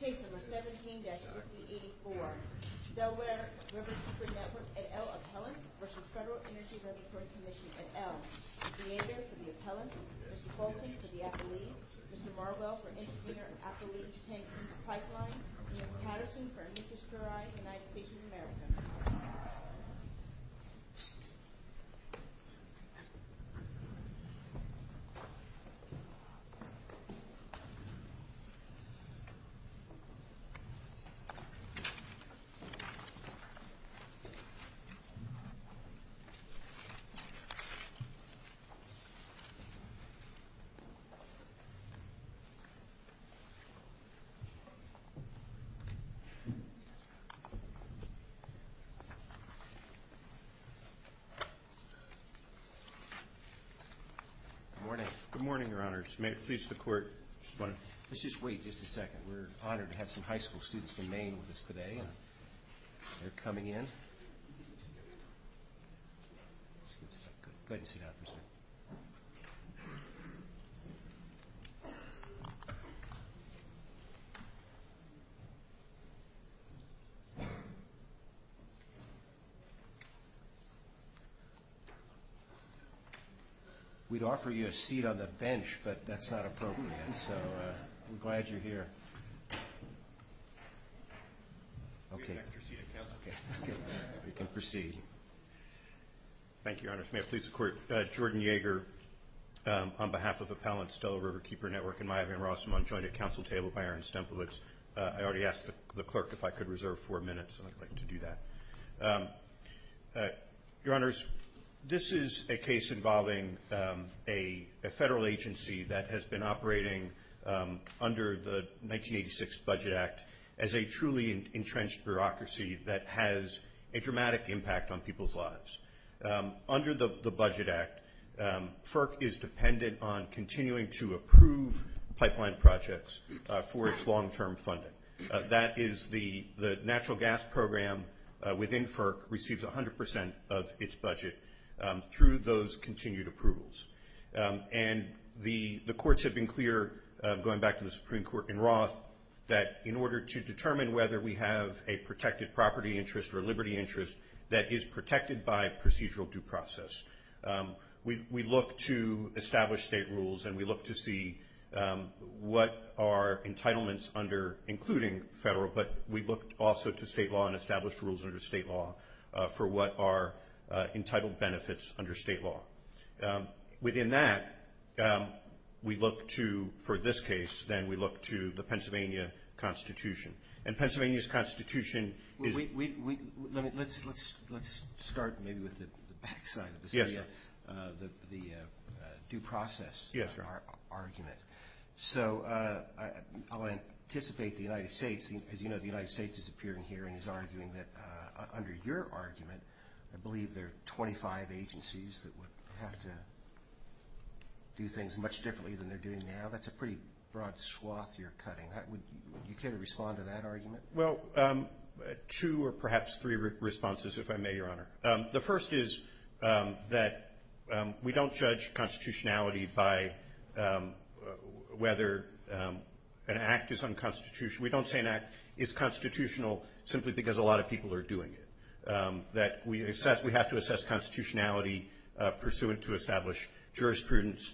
Case No. 17-5084 Delaware Riverkeeper Network et al. appellants v. Federal Energy Laboratory Commission et al. Mr. Yager for the appellants, Mr. Colton for the appellees, Mr. Marwell for intervener and appellee pipeline, and Ms. Patterson for Amicus Curiae, United States of America. Good morning, Your Honors. May it please the Court. Let's just wait just a second. We're honored to have some high school students from Maine with us today. They're coming in. Go ahead and sit down first. We'd offer you a seat on the bench, but that's not appropriate. So we're glad you're here. Okay. We can proceed. Thank you, Your Honors. May it please the Court. Jordan Yager on behalf of appellants, Delaware Riverkeeper Network, and Maya Van Rossum on joint counsel table by Aaron Stempelitz. I already asked the clerk if I could reserve four minutes. I'd like to do that. Your Honors, this is a case involving a federal agency that has been operating under the 1986 Budget Act as a truly entrenched bureaucracy that has a dramatic impact on people's lives. Under the Budget Act, FERC is dependent on continuing to approve pipeline projects for its long-term funding. That is the natural gas program within FERC receives 100% of its budget through those continued approvals. And the courts have been clear, going back to the Supreme Court in Roth, that in order to determine whether we have a protected property interest or liberty interest that is protected by procedural due process, we look to establish state rules and we look to see what are entitlements under including federal, but we look also to state law and established rules under state law for what are entitled benefits under state law. Within that, we look to, for this case, then we look to the Pennsylvania Constitution. And Pennsylvania's Constitution is... Let's start maybe with the back side of this. Yes, sir. The due process for our argument. So I'll anticipate the United States, as you know the United States has appeared in here and is arguing that under your argument, I believe there are 25 agencies that would have to do things much differently than they're doing now. That's a pretty broad swath you're cutting. Would you care to respond to that argument? Well, two or perhaps three responses, if I may, Your Honor. The first is that we don't judge constitutionality by whether an act is unconstitutional. We don't say an act is constitutional simply because a lot of people are doing it. We have to assess constitutionality pursuant to established jurisprudence.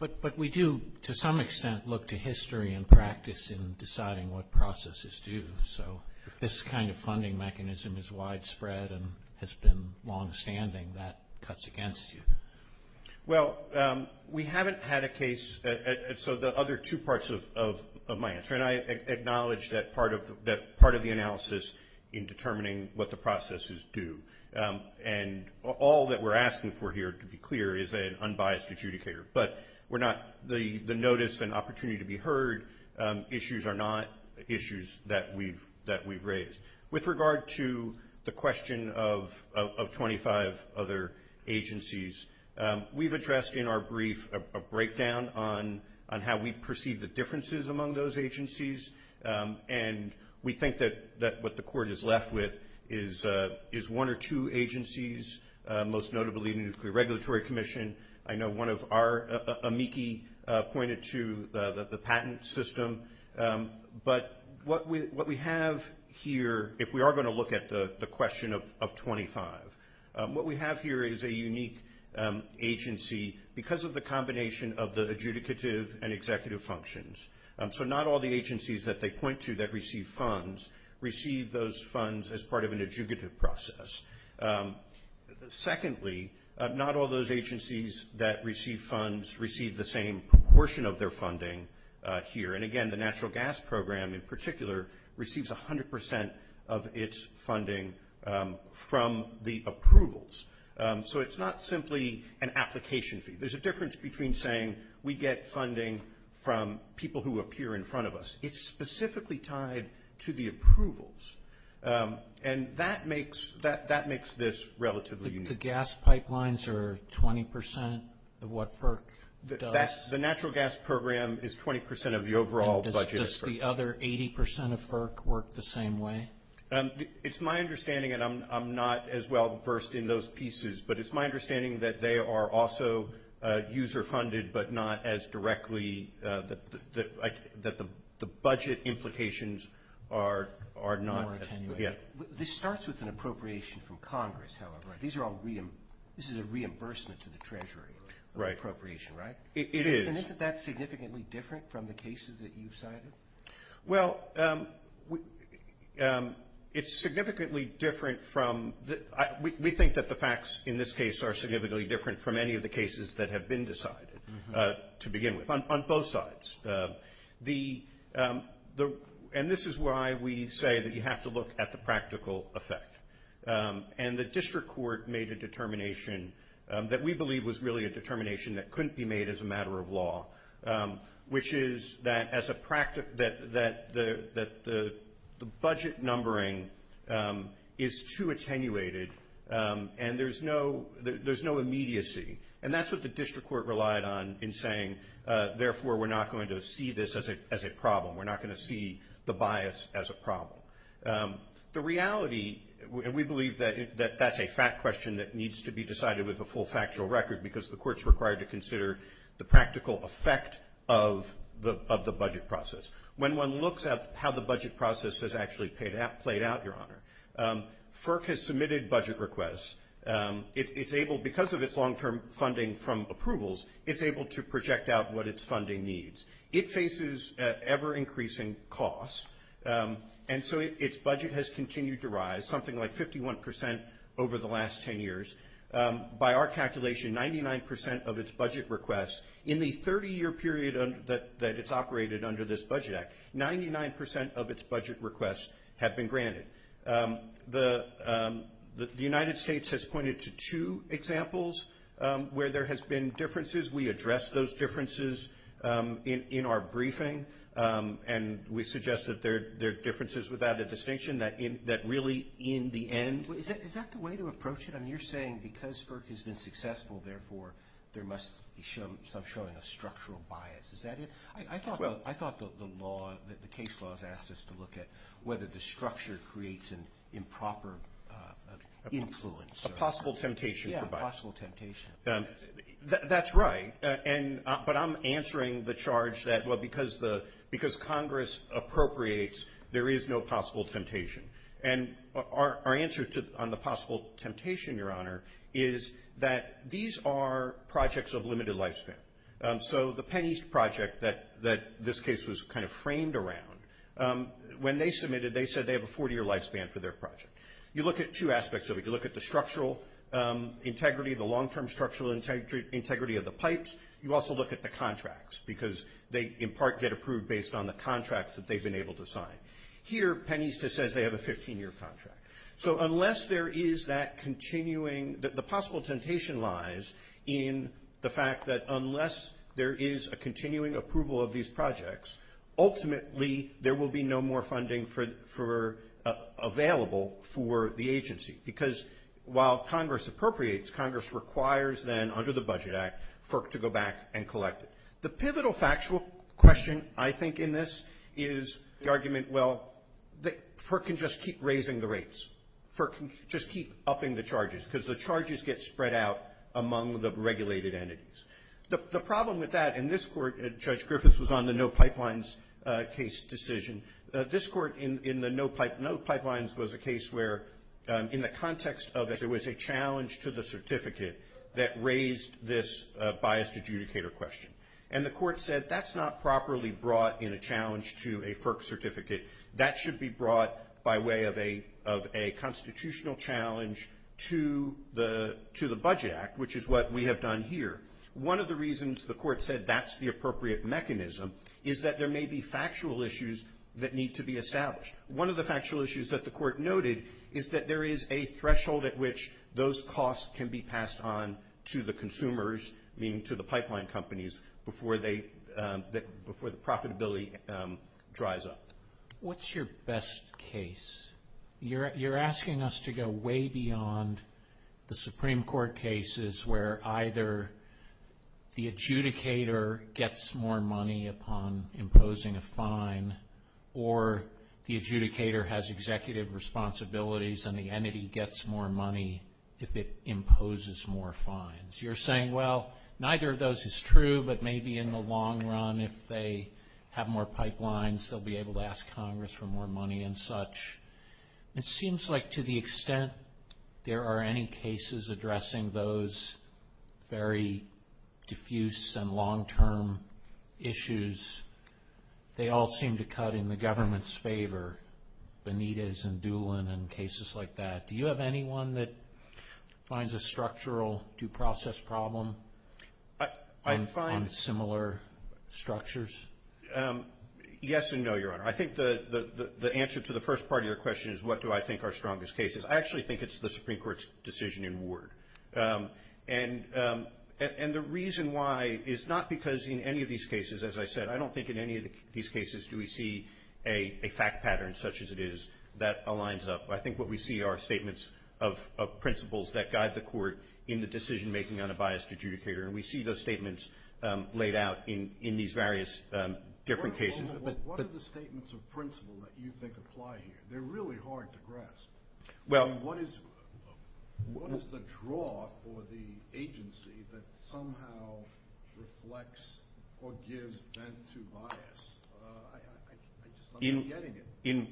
But we do, to some extent, look to history and practice in deciding what processes to use. So if this kind of funding mechanism is widespread and has been longstanding, that cuts against you. Well, we haven't had a case. So the other two parts of my answer, and I acknowledge that part of the analysis in determining what the processes do, and all that we're asking for here, to be clear, is an unbiased adjudicator. But the notice and opportunity to be heard issues are not issues that we've raised. With regard to the question of 25 other agencies, we've addressed in our brief a breakdown on how we perceive the differences among those agencies. And we think that what the Court is left with is one or two agencies, most notably the Nuclear Regulatory Commission. I know one of our amici pointed to the patent system. But what we have here, if we are going to look at the question of 25, what we have here is a unique agency because of the combination of the adjudicative and executive functions. So not all the agencies that they point to that receive funds receive those funds as part of an adjudicative process. Secondly, not all those agencies that receive funds receive the same proportion of their funding here. And, again, the Natural Gas Program, in particular, receives 100 percent of its funding from the approvals. So it's not simply an application fee. There's a difference between saying we get funding from people who appear in front of us. It's specifically tied to the approvals. And that makes this relatively unique. The gas pipelines are 20 percent of what FERC does? The Natural Gas Program is 20 percent of the overall budget. And does the other 80 percent of FERC work the same way? It's my understanding, and I'm not as well versed in those pieces, but it's my understanding that they are also user-funded but not as directly, that the budget implications are not. This starts with an appropriation from Congress, however. This is a reimbursement to the Treasury appropriation, right? It is. And isn't that significantly different from the cases that you've cited? Well, it's significantly different from the – we think that the facts in this case are significantly different from any of the cases that have been decided to begin with, on both sides. And this is why we say that you have to look at the practical effect. And the district court made a determination that we believe was really a determination that couldn't be made as a matter of law, which is that the budget numbering is too attenuated and there's no immediacy. And that's what the district court relied on in saying, therefore, we're not going to see this as a problem. We're not going to see the bias as a problem. The reality, and we believe that that's a fact question that needs to be decided with a full factual record, because the court's required to consider the practical effect of the budget process. When one looks at how the budget process has actually played out, Your Honor, FERC has submitted budget requests. It's able, because of its long-term funding from approvals, it's able to project out what its funding needs. It faces ever-increasing costs. And so its budget has continued to rise, something like 51% over the last 10 years. By our calculation, 99% of its budget requests in the 30-year period that it's operated under this Budget Act, 99% of its budget requests have been granted. The United States has pointed to two examples where there has been differences. We address those differences in our briefing, and we suggest that there are differences without a distinction, that really, in the end. Is that the way to approach it? I mean, you're saying because FERC has been successful, therefore, there must be some showing of structural bias. Is that it? I thought the law, the case law has asked us to look at whether the structure creates an improper influence. A possible temptation for bias. Yeah, a possible temptation. That's right. But I'm answering the charge that, well, because Congress appropriates, there is no possible temptation. And our answer on the possible temptation, Your Honor, is that these are projects of limited lifespan. So the Penn East project that this case was kind of framed around, when they submitted, they said they have a 40-year lifespan for their project. You look at two aspects of it. You look at the structural integrity, the long-term structural integrity of the pipes. You also look at the contracts because they, in part, get approved based on the contracts that they've been able to sign. Here, Penn East just says they have a 15-year contract. So unless there is that continuing, the possible temptation lies in the fact that unless there is a continuing approval of these projects, ultimately, there will be no more funding for available for the agency. Because while Congress appropriates, Congress requires, then, under the Budget Act, FERC to go back and collect it. The pivotal factual question, I think, in this is the argument, well, FERC can just keep raising the rates. FERC can just keep upping the charges because the charges get spread out among the regulated entities. The problem with that in this court, Judge Griffiths was on the no pipelines case decision. This court in the no pipelines was a case where, in the context of it, there was a challenge to the certificate that raised this biased adjudicator question. And the court said that's not properly brought in a challenge to a FERC certificate. That should be brought by way of a constitutional challenge to the Budget Act, which is what we have done here. One of the reasons the court said that's the appropriate mechanism is that there may be factual issues that need to be established. One of the factual issues that the court noted is that there is a threshold at which those costs can be passed on to the consumers, meaning to the pipeline companies, before the profitability dries up. What's your best case? You're asking us to go way beyond the Supreme Court cases where either the adjudicator gets more money upon imposing a fine, or the adjudicator has executive responsibilities and the entity gets more money if it imposes more fines. You're saying, well, neither of those is true, but maybe in the long run, if they have more pipelines, they'll be able to ask Congress for more money and such. It seems like to the extent there are any cases addressing those very diffuse and long-term issues, they all seem to cut in the government's favor, Benitez and Doolin and cases like that. Do you have anyone that finds a structural due process problem on similar structures? Yes and no, Your Honor. I think the answer to the first part of your question is what do I think are strongest cases. I actually think it's the Supreme Court's decision in Ward. And the reason why is not because in any of these cases, as I said, I don't think in any of these cases do we see a fact pattern such as it is that aligns up. I think what we see are statements of principles that guide the court in the decision-making on a biased adjudicator, and we see those statements laid out in these various different cases. What are the statements of principle that you think apply here? They're really hard to grasp. What is the draw for the agency that somehow reflects or gives vent to bias?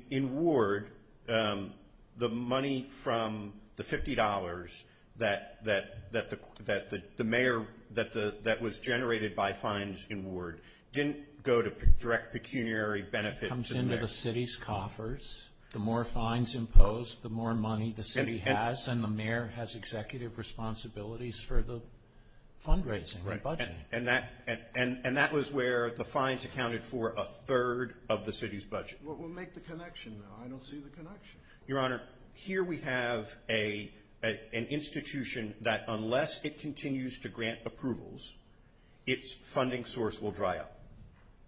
In Ward, the money from the $50 that the mayor that was generated by fines in Ward didn't go to direct pecuniary benefits. It comes into the city's coffers. The more fines imposed, the more money the city has, and the mayor has executive responsibilities for the fundraising, the budgeting. And that was where the fines accounted for a third of the city's budget. Well, make the connection now. I don't see the connection. Your Honor, here we have an institution that unless it continues to grant approvals, its funding source will dry up,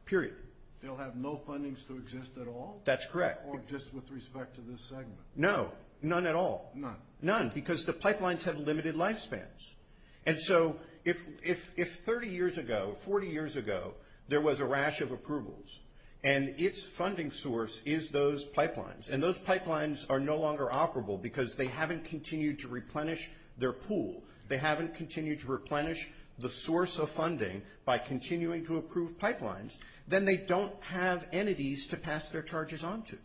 period. They'll have no fundings to exist at all? That's correct. Or just with respect to this segment? No, none at all. None. None, because the pipelines have limited lifespans. And so if 30 years ago, 40 years ago, there was a rash of approvals and its funding source is those pipelines, and those pipelines are no longer operable because they haven't continued to replenish their pool, they haven't continued to replenish the source of funding by continuing to approve pipelines, then they don't have entities to pass their charges on to.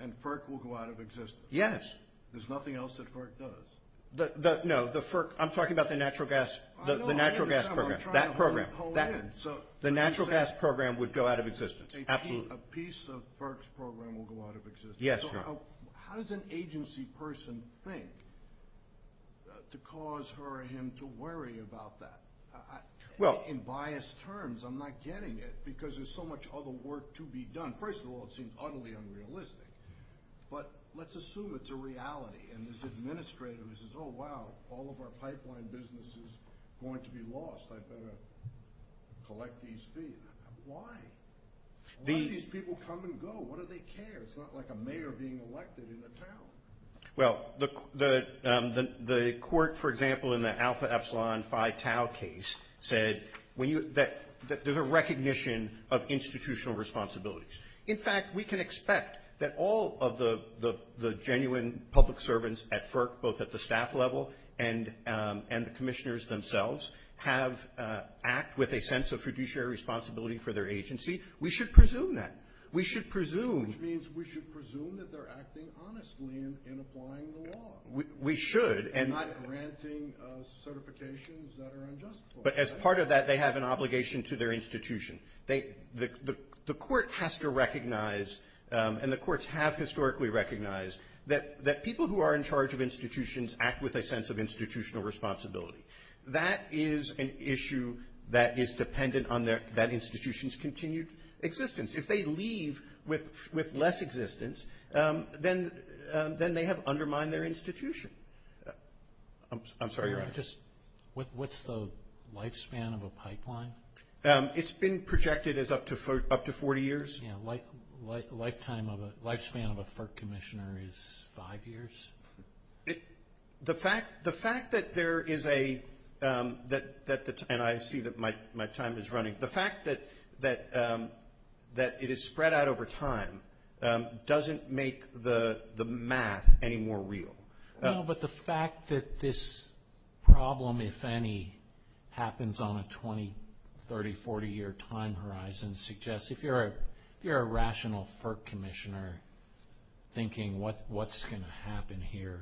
And FERC will go out of existence? Yes. There's nothing else that FERC does? No, I'm talking about the natural gas program. That program. The natural gas program would go out of existence. Absolutely. A piece of FERC's program will go out of existence? Yes, Your Honor. How does an agency person think to cause her or him to worry about that? In biased terms, I'm not getting it because there's so much other work to be done. First of all, it seems utterly unrealistic, but let's assume it's a reality, and this administrator says, oh, wow, all of our pipeline business is going to be lost. I better collect these fees. Why? Why do these people come and go? What do they care? It's not like a mayor being elected in a town. Well, the court, for example, in the Alpha Epsilon Phi Tau case, said that there's a recognition of institutional responsibilities. In fact, we can expect that all of the genuine public servants at FERC, both at the staff level and the commissioners themselves, have act with a sense of fiduciary responsibility for their agency. We should presume that. We should presume. Which means we should presume that they're acting honestly and applying the law. We should. And not granting certifications that are unjustified. But as part of that, they have an obligation to their institution. The court has to recognize, and the courts have historically recognized, that people who are in charge of institutions act with a sense of institutional responsibility. That is an issue that is dependent on that institution's continued existence. If they leave with less existence, then they have undermined their institution. I'm sorry, your Honor. What's the lifespan of a pipeline? It's been projected as up to 40 years. Lifespan of a FERC commissioner is five years? The fact that there is a – and I see that my time is running. The fact that it is spread out over time doesn't make the math any more real. No, but the fact that this problem, if any, happens on a 20-, 30-, 40-year time horizon suggests, if you're a rational FERC commissioner thinking what's going to happen here,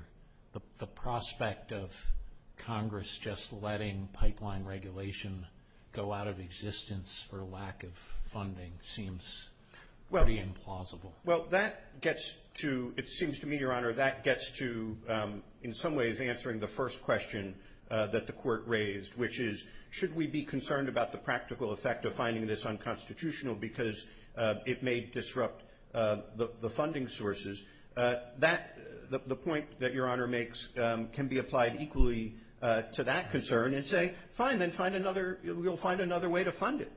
the prospect of Congress just letting pipeline regulation go out of existence for lack of funding seems pretty implausible. Well, that gets to – it seems to me, your Honor, that gets to, in some ways, answering the first question that the court raised, which is should we be concerned about the practical effect of finding this unconstitutional because it may disrupt the funding sources. The point that your Honor makes can be applied equally to that concern and say, fine, then find another – we'll find another way to fund it.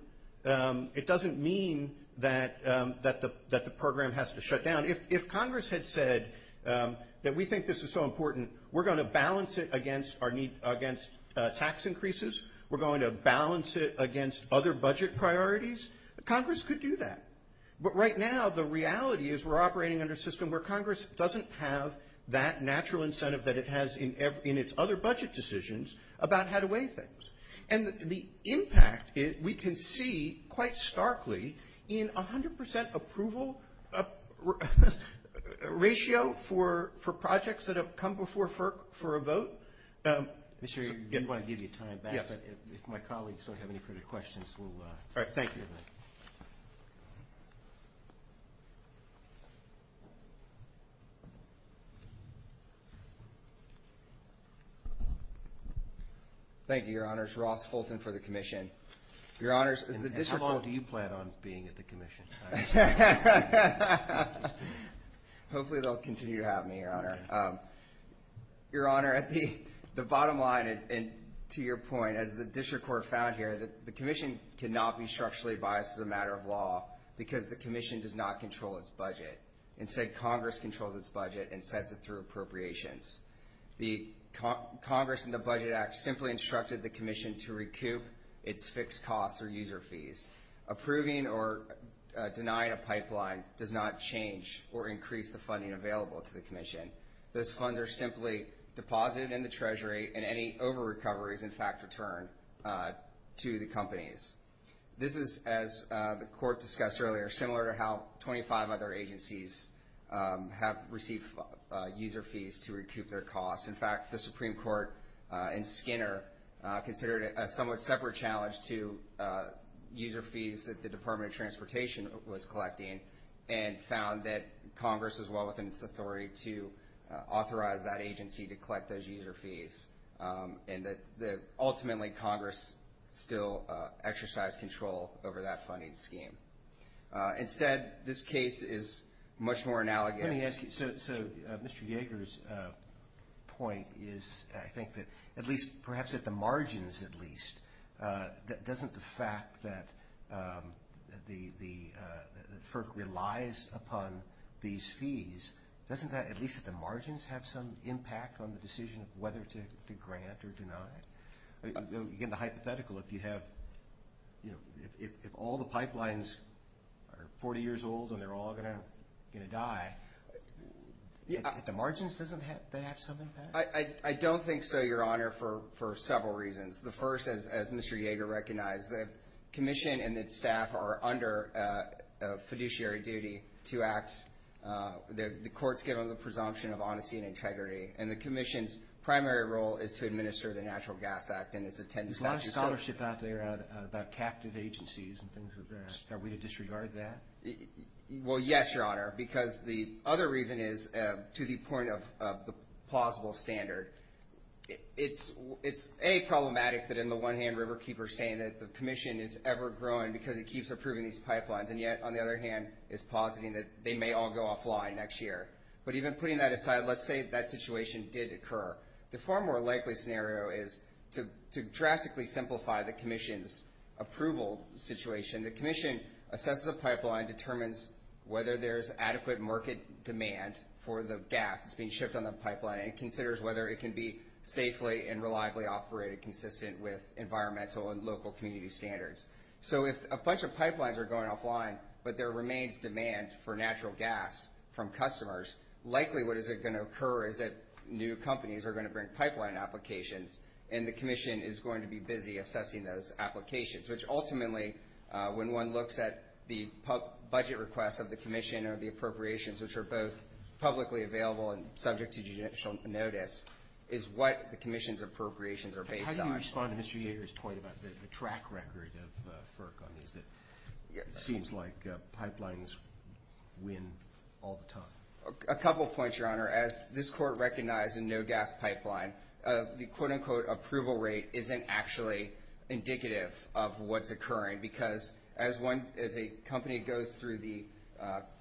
It doesn't mean that the program has to shut down. If Congress had said that we think this is so important, we're going to balance it against tax increases. We're going to balance it against other budget priorities. Congress could do that. But right now the reality is we're operating under a system where Congress doesn't have that natural incentive that it has in its other budget decisions about how to weigh things. And the impact we can see quite starkly in 100 percent approval ratio for projects that have come before FERC for a vote. Mr. Reardon, we did want to give you time back, but if my colleagues don't have any further questions, we'll – all right. Thank you. Thank you, Your Honor. Thank you, Your Honors. Ross Fulton for the commission. Your Honors, as the district court – How long do you plan on being at the commission? Hopefully they'll continue to have me, Your Honor. Your Honor, the bottom line, and to your point, as the district court found here, the commission cannot be structurally biased as a matter of law because the commission does not control its budget. Instead, Congress controls its budget and sets it through appropriations. Congress in the Budget Act simply instructed the commission to recoup its fixed costs or user fees. Approving or denying a pipeline does not change or increase the funding available to the commission. Those funds are simply deposited in the treasury, and any over-recoveries, in fact, return to the companies. This is, as the court discussed earlier, similar to how 25 other agencies have received user fees to recoup their costs. In fact, the Supreme Court in Skinner considered it a somewhat separate challenge to user fees that the Department of Transportation was collecting and found that Congress was well within its authority to authorize that agency to collect those user fees and that ultimately Congress still exercised control over that funding scheme. Instead, this case is much more analogous. Let me ask you, so Mr. Yeager's point is I think that at least perhaps at the margins at least, doesn't the fact that FERC relies upon these fees, doesn't that at least at the margins have some impact on the decision of whether to grant or deny? Again, the hypothetical, if you have, you know, if all the pipelines are 40 years old and they're all going to die, at the margins doesn't that have some impact? I don't think so, Your Honor, for several reasons. The first, as Mr. Yeager recognized, the commission and its staff are under a fiduciary duty to act. The court's given the presumption of honesty and integrity, and the commission's primary role is to administer the Natural Gas Act and its attendance statute. There's a lot of scholarship out there about captive agencies and things like that. Are we to disregard that? Well, yes, Your Honor, because the other reason is to the point of the plausible standard. It's problematic that in the one hand Riverkeeper's saying that the commission is ever growing because it keeps approving these pipelines, and yet on the other hand is positing that they may all go offline next year. But even putting that aside, let's say that situation did occur. The far more likely scenario is to drastically simplify the commission's approval situation. The commission assesses a pipeline, determines whether there's adequate market demand for the gas that's being shipped on the pipeline, and considers whether it can be safely and reliably operated consistent with environmental and local community standards. So if a bunch of pipelines are going offline but there remains demand for natural gas from customers, likely what is going to occur is that new companies are going to bring pipeline applications, and the commission is going to be busy assessing those applications, which ultimately when one looks at the budget requests of the commission or the appropriations, which are both publicly available and subject to judicial notice, is what the commission's appropriations are based on. How do you respond to Mr. Yager's point about the track record of FERC on these that seems like pipelines win all the time? A couple points, Your Honor. As this court recognized in no gas pipeline, the quote unquote approval rate isn't actually indicative of what's occurring because as a company goes through the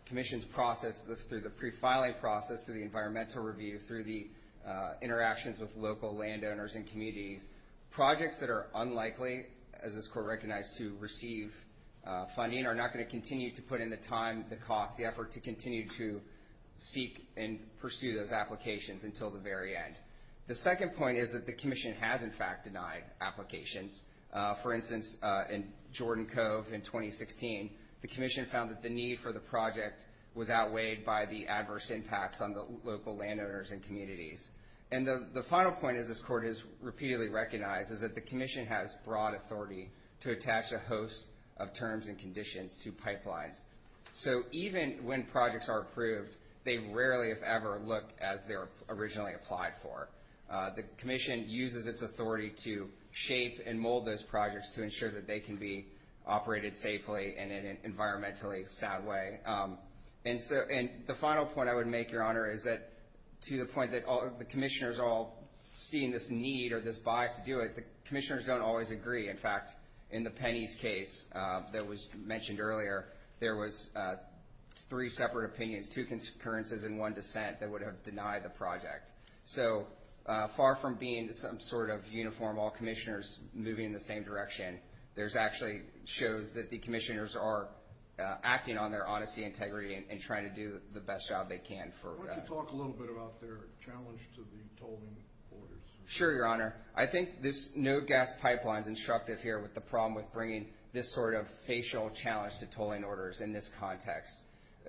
commission's process, through the pre-filing process, through the environmental review, through the interactions with local landowners and communities, projects that are unlikely, as this court recognized, to receive funding are not going to continue to put in the time, the cost, the effort to continue to seek and pursue those applications until the very end. The second point is that the commission has in fact denied applications. For instance, in Jordan Cove in 2016, the commission found that the need for the project was outweighed by the adverse impacts on the local landowners and communities. And the final point, as this court has repeatedly recognized, is that the commission has broad authority to attach a host of terms and conditions to pipelines. So even when projects are approved, they rarely, if ever, look as they were originally applied for. The commission uses its authority to shape and mold those projects to ensure that they can be operated safely and in an environmentally sound way. And the final point I would make, Your Honor, is that to the point that the commissioners are all seeing this need or this bias to do it, the commissioners don't always agree. In fact, in the Penney's case that was mentioned earlier, there was three separate opinions, two concurrences and one dissent that would have denied the project. So far from being some sort of uniform, all commissioners moving in the same direction, there's actually shows that the commissioners are acting on their honesty, integrity, and trying to do the best job they can for us. Why don't you talk a little bit about their challenge to the tolling orders? Sure, Your Honor. I think this no-gas pipeline is instructive here with the problem with bringing this sort of facial challenge to tolling orders in this context.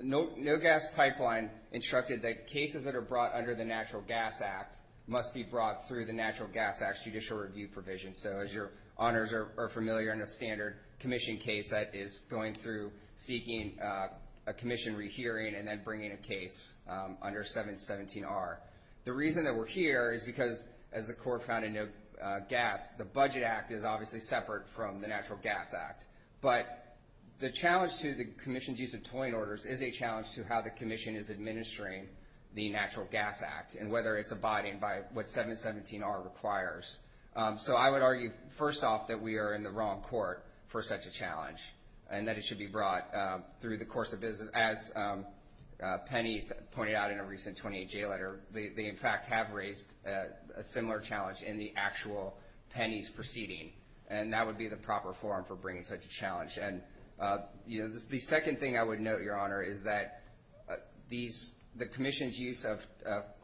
No-gas pipeline instructed that cases that are brought under the Natural Gas Act must be brought through the Natural Gas Act's judicial review provision. So as Your Honors are familiar, in a standard commission case that is going through seeking a commission rehearing and then bringing a case under 717R. The reason that we're here is because, as the court found in no-gas, the Budget Act is obviously separate from the Natural Gas Act. But the challenge to the commission's use of tolling orders is a challenge to how the commission is administering the Natural Gas Act and whether it's abiding by what 717R requires. So I would argue, first off, that we are in the wrong court for such a challenge and that it should be brought through the course of business. As Penny pointed out in a recent 28-J letter, they, in fact, have raised a similar challenge in the actual Penny's proceeding, and that would be the proper forum for bringing such a challenge. And the second thing I would note, Your Honor, is that the commission's use of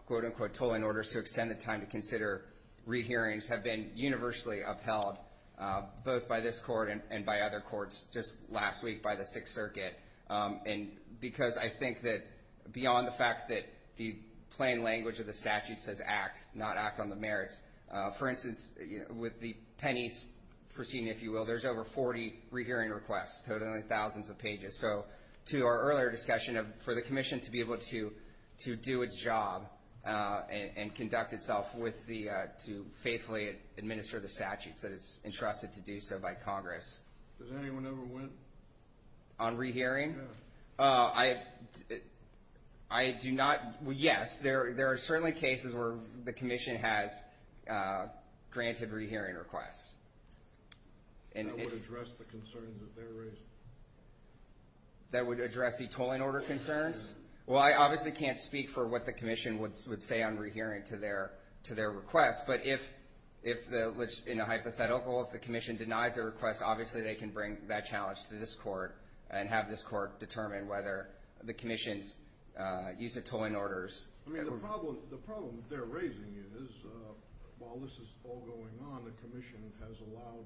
quote-unquote tolling orders to extend the time to consider rehearings have been universally upheld both by this court and by other courts just last week by the Sixth Circuit. And because I think that beyond the fact that the plain language of the statute says act, not act on the merits, for instance, with the Penny's proceeding, if you will, there's over 40 rehearing requests, totaling thousands of pages. So to our earlier discussion of for the commission to be able to do its job and conduct itself to faithfully administer the statutes that it's entrusted to do so by Congress. Has anyone ever went? On rehearing? No. I do not. Yes. There are certainly cases where the commission has granted rehearing requests. That would address the concerns that they're raising. That would address the tolling order concerns? Well, I obviously can't speak for what the commission would say on rehearing to their request, but in a hypothetical, if the commission denies their request, obviously they can bring that challenge to this court and have this court determine whether the commission's use of tolling orders. I mean, the problem they're raising is while this is all going on, the commission has allowed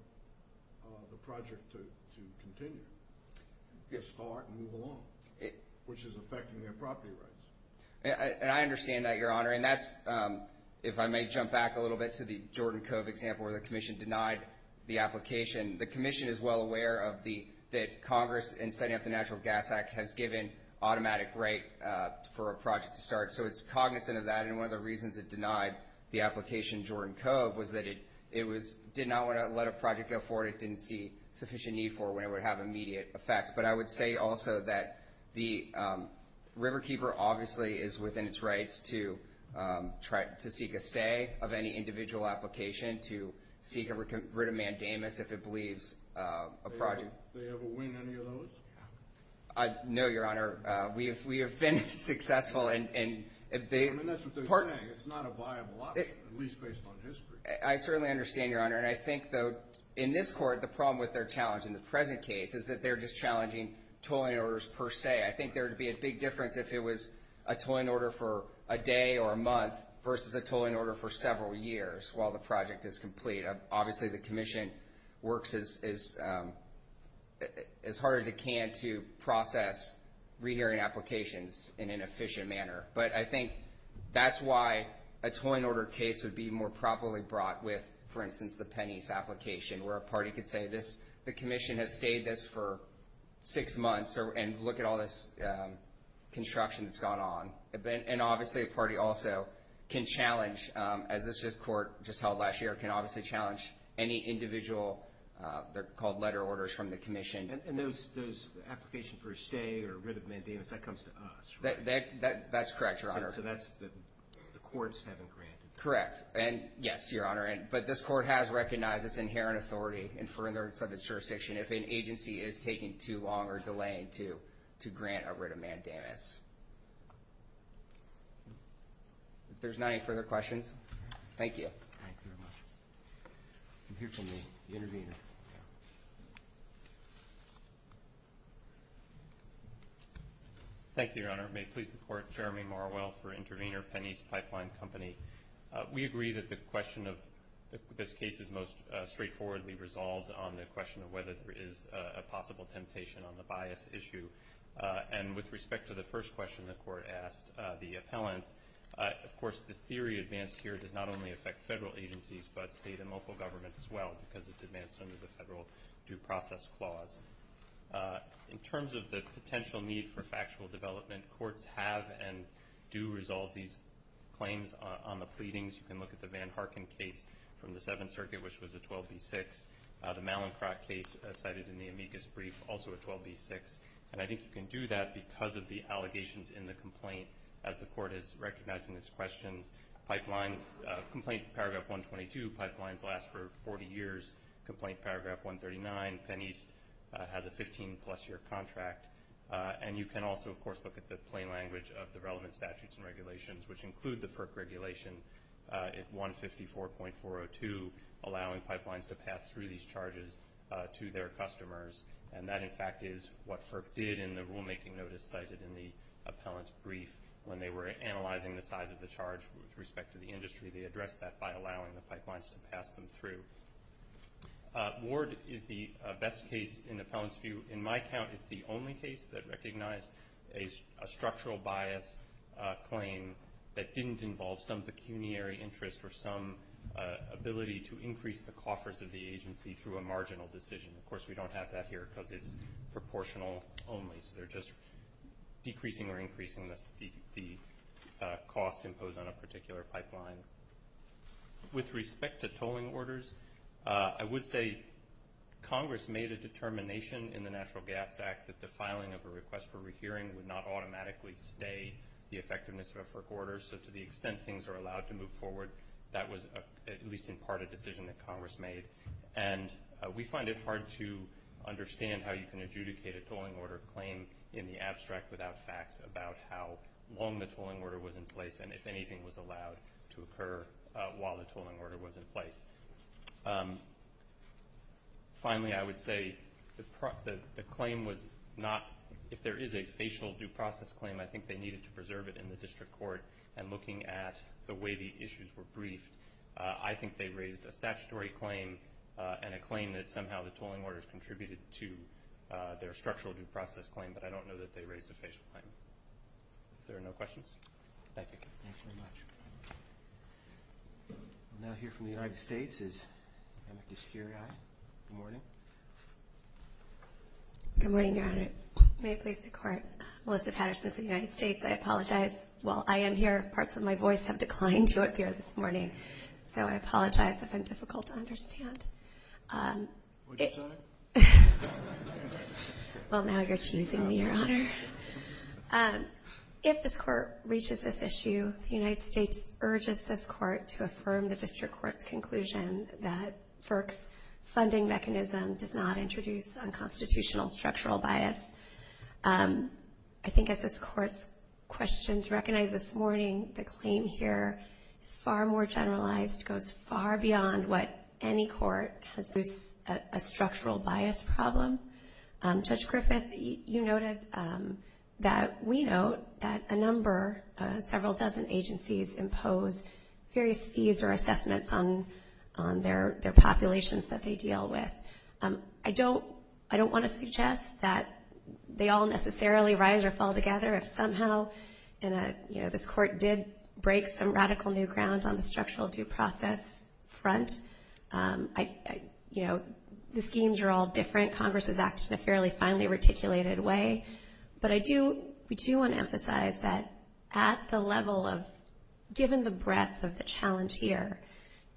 the project to continue, to start and move along, which is affecting their property rights. And I understand that, Your Honor. And that's, if I may jump back a little bit to the Jordan Cove example where the commission denied the application, the commission is well aware that Congress in setting up the Natural Gas Act has given automatic right for a project to start. So it's cognizant of that. And one of the reasons it denied the application in Jordan Cove was that it did not want to let a project go forward. It didn't see sufficient need for it when it would have immediate effects. But I would say also that the riverkeeper obviously is within its rights to seek a stay of any individual application and to seek a writ of mandamus if it believes a project. Did they ever win any of those? No, Your Honor. We have been successful. I mean, that's what they're saying. It's not a viable option, at least based on history. I certainly understand, Your Honor. And I think, though, in this court, the problem with their challenge in the present case is that they're just challenging tolling orders per se. I think there would be a big difference if it was a tolling order for a day or a month versus a tolling order for several years while the project is complete. Obviously the commission works as hard as it can to process rehearing applications in an efficient manner. But I think that's why a tolling order case would be more properly brought with, for instance, the Penney's application, where a party could say the commission has stayed this for six months and look at all this construction that's gone on. And obviously a party also can challenge, as this court just held last year, can obviously challenge any individual letter orders from the commission. And those applications for a stay or a writ of mandamus, that comes to us, right? That's correct, Your Honor. So that's the courts having granted. Correct. And, yes, Your Honor. But this court has recognized its inherent authority in furtherance of its jurisdiction if an agency is taking too long or delaying to grant a writ of mandamus. If there's not any further questions, thank you. Thank you very much. We'll hear from the intervener. Thank you, Your Honor. May it please the Court, Jeremy Marwell for intervener, Penney's Pipeline Company. We agree that the question of this case is most straightforwardly resolved on the question of whether there is a possible temptation on the bias issue. And with respect to the first question the Court asked, the appellants, of course the theory advanced here does not only affect federal agencies but state and local government as well because it's advanced under the Federal Due Process Clause. In terms of the potential need for factual development, courts have and do resolve these claims on the pleadings. You can look at the Van Harken case from the Seventh Circuit, which was a 12B6. The Mallinckrodt case cited in the amicus brief, also a 12B6. And I think you can do that because of the allegations in the complaint as the Court is recognizing its questions. Complaint Paragraph 122, pipelines last for 40 years. Complaint Paragraph 139, Penney's has a 15-plus-year contract. And you can also, of course, look at the plain language of the relevant statutes and regulations, which include the FERC regulation 154.402, allowing pipelines to pass through these charges to their customers. And that, in fact, is what FERC did in the rulemaking notice cited in the appellant's brief. When they were analyzing the size of the charge with respect to the industry, they addressed that by allowing the pipelines to pass them through. Ward is the best case in the appellant's view. In my count, it's the only case that recognized a structural bias claim that didn't involve some pecuniary interest or some ability to increase the coffers of the agency through a marginal decision. Of course, we don't have that here because it's proportional only. They're just decreasing or increasing the costs imposed on a particular pipeline. With respect to tolling orders, I would say Congress made a determination in the Natural Gas Act that the filing of a request for rehearing would not automatically stay the effectiveness of a FERC order. So to the extent things are allowed to move forward, that was at least in part a decision that Congress made. And we find it hard to understand how you can adjudicate a tolling order claim in the abstract without facts about how long the tolling order was in place and if anything was allowed to occur while the tolling order was in place. Finally, I would say the claim was not—if there is a facial due process claim, I think they needed to preserve it in the district court. And looking at the way the issues were briefed, I think they raised a statutory claim and a claim that somehow the tolling orders contributed to their structural due process claim, but I don't know that they raised a facial claim. If there are no questions. Thank you. Thank you very much. We'll now hear from the United States. Good morning. Good morning, Your Honor. May it please the Court. Melissa Patterson for the United States. I apologize. While I am here, parts of my voice have declined to appear this morning, so I apologize if I'm difficult to understand. Would you, Your Honor? Well, now you're teasing me, Your Honor. If this Court reaches this issue, the United States urges this Court to affirm the district court's conclusion that FERC's funding mechanism does not introduce unconstitutional structural bias. I think as this Court's questions recognized this morning, the claim here is far more generalized, goes far beyond what any court has used as a structural bias problem. Judge Griffith, you noted that we note that a number, several dozen agencies, impose various fees or assessments on their populations that they deal with. I don't want to suggest that they all necessarily rise or fall together. If somehow this Court did break some radical new ground on the structural due process front, the schemes are all different. Congress is acting in a fairly finely reticulated way. But I do want to emphasize that at the level of, given the breadth of the challenge here,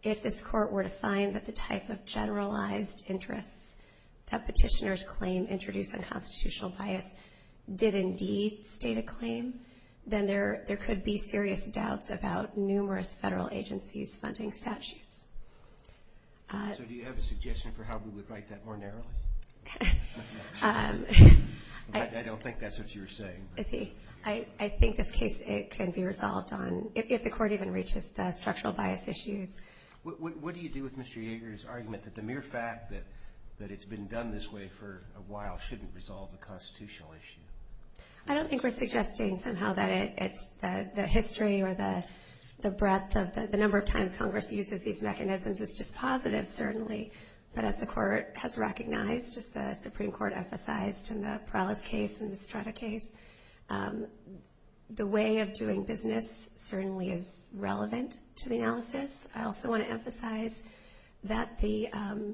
if this Court were to find that the type of generalized interests that petitioners claim introduce unconstitutional bias did indeed state a claim, then there could be serious doubts about numerous federal agencies funding statutes. So do you have a suggestion for how we would write that more narrowly? I don't think that's what you were saying. I think this case, it can be resolved on, if the Court even reaches the structural bias issues. What do you do with Mr. Yeager's argument that the mere fact that it's been done this way for a while shouldn't resolve the constitutional issue? I don't think we're suggesting somehow that it's the history or the breadth of the number of times Congress uses these mechanisms is dispositive, certainly. But as the Court has recognized, as the Supreme Court emphasized in the Perales case and the Strata case, the way of doing business certainly is relevant to the analysis. I also want to emphasize that there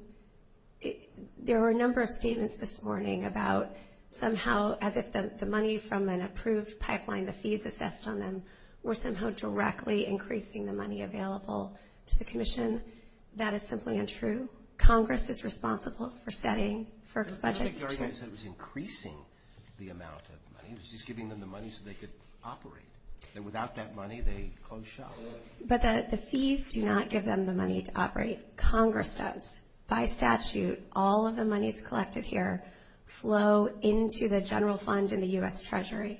were a number of statements this morning about somehow, as if the money from an approved pipeline, the fees assessed on them, were somehow directly increasing the money available to the Commission. That is simply untrue. Congress is responsible for setting, for expunging. Your argument is that it was increasing the amount of money. It was just giving them the money so they could operate. And without that money, they close shop. But the fees do not give them the money to operate. Congress does. By statute, all of the monies collected here flow into the general fund in the U.S. Treasury.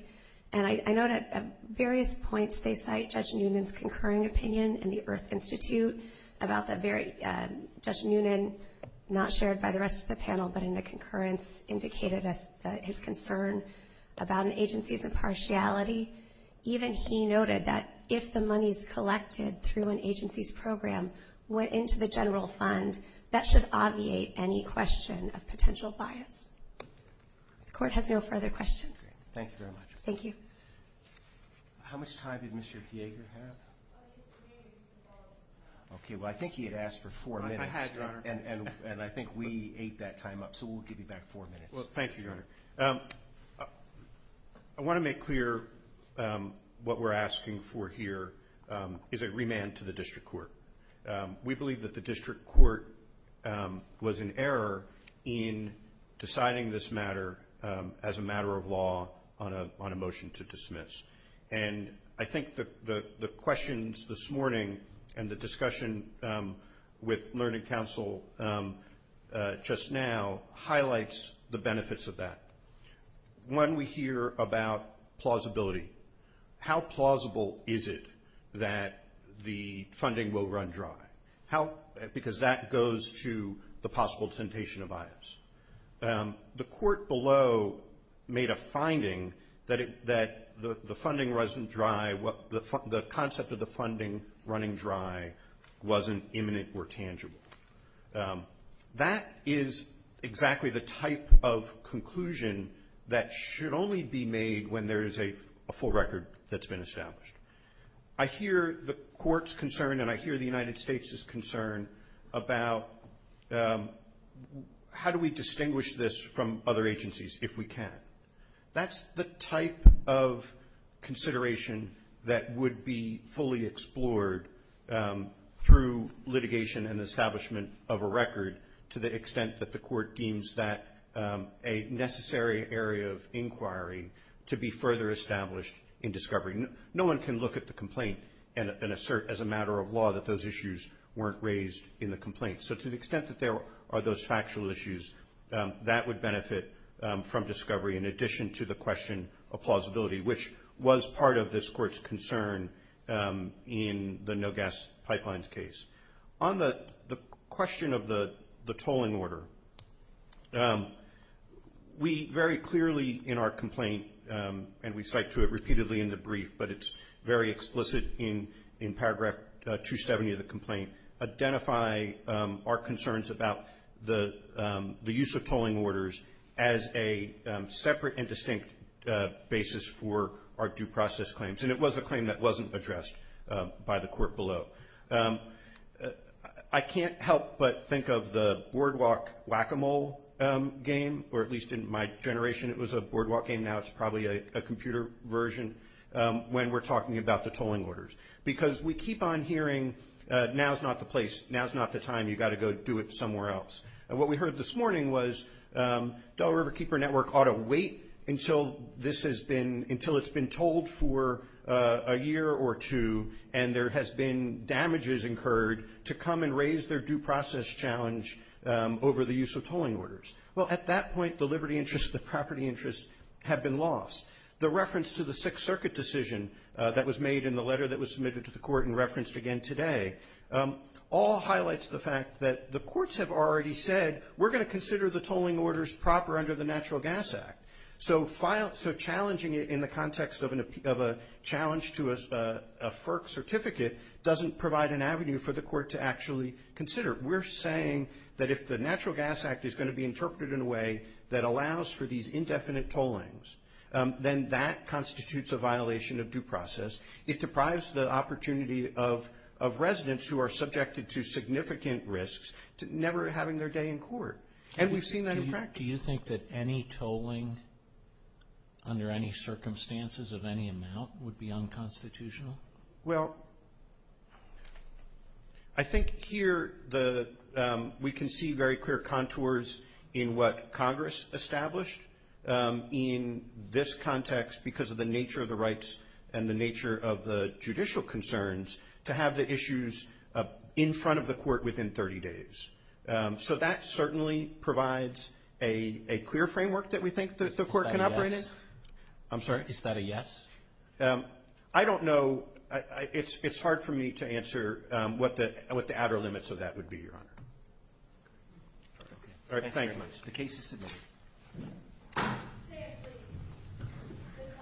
And I note at various points they cite Judge Noonan's concurring opinion in the Earth Institute about the very, Judge Noonan, not shared by the rest of the panel, but in the concurrence indicated his concern about an agency's impartiality. Even he noted that if the monies collected through an agency's program went into the general fund, that should obviate any question of potential bias. The Court has no further questions. Thank you very much. Thank you. How much time did Mr. Kieger have? Okay, well, I think he had asked for four minutes. I had, Your Honor. And I think we ate that time up, so we'll give you back four minutes. Well, thank you, Your Honor. I want to make clear what we're asking for here is a remand to the district court. We believe that the district court was in error in deciding this matter as a matter of law on a motion to dismiss. And I think the questions this morning and the discussion with Learning Council just now highlights the benefits of that. One, we hear about plausibility. How plausible is it that the funding will run dry? Because that goes to the possible temptation of bias. The court below made a finding that the funding wasn't dry, the concept of the funding running dry wasn't imminent or tangible. That is exactly the type of conclusion that should only be made when there is a full record that's been established. I hear the Court's concern and I hear the United States' concern about how do we distinguish this from other agencies if we can. That's the type of consideration that would be fully explored through litigation and establishment of a record, to the extent that the Court deems that a necessary area of inquiry to be further established in discovery. No one can look at the complaint and assert as a matter of law that those issues weren't raised in the complaint. So to the extent that there are those factual issues, that would benefit from discovery, in addition to the question of plausibility, which was part of this Court's concern in the no-gas pipelines case. On the question of the tolling order, we very clearly in our complaint, and we cite to it repeatedly in the brief, but it's very explicit in paragraph 270 of the complaint, identify our concerns about the use of tolling orders as a separate and distinct basis for our due process claims. And it was a claim that wasn't addressed by the Court below. I can't help but think of the boardwalk whack-a-mole game, or at least in my generation it was a boardwalk game. Now it's probably a computer version when we're talking about the tolling orders. Because we keep on hearing, now's not the place, now's not the time, you've got to go do it somewhere else. And what we heard this morning was Delaware River Keeper Network ought to wait until this has been, until it's been tolled for a year or two, and there has been damages incurred, to come and raise their due process challenge over the use of tolling orders. Well, at that point, the liberty interest, the property interest have been lost. The reference to the Sixth Circuit decision that was made in the letter that was submitted to the Court and referenced again today, all highlights the fact that the courts have already said, we're going to consider the tolling orders proper under the Natural Gas Act. So challenging it in the context of a challenge to a FERC certificate doesn't provide an avenue for the Court to actually consider. We're saying that if the Natural Gas Act is going to be interpreted in a way that allows for these indefinite tollings, then that constitutes a violation of due process. It deprives the opportunity of residents who are subjected to significant risks to never having their day in court. And we've seen that in practice. Do you think that any tolling under any circumstances of any amount would be unconstitutional? Well, I think here we can see very clear contours in what Congress established in this context because of the nature of the rights and the nature of the judicial concerns to have the issues in front of the Court within 30 days. So that certainly provides a clear framework that we think the Court can operate in. Is that a yes? I'm sorry? Is that a yes? I don't know. It's hard for me to answer what the outer limits of that would be, Your Honor. Thank you very much. The case is submitted.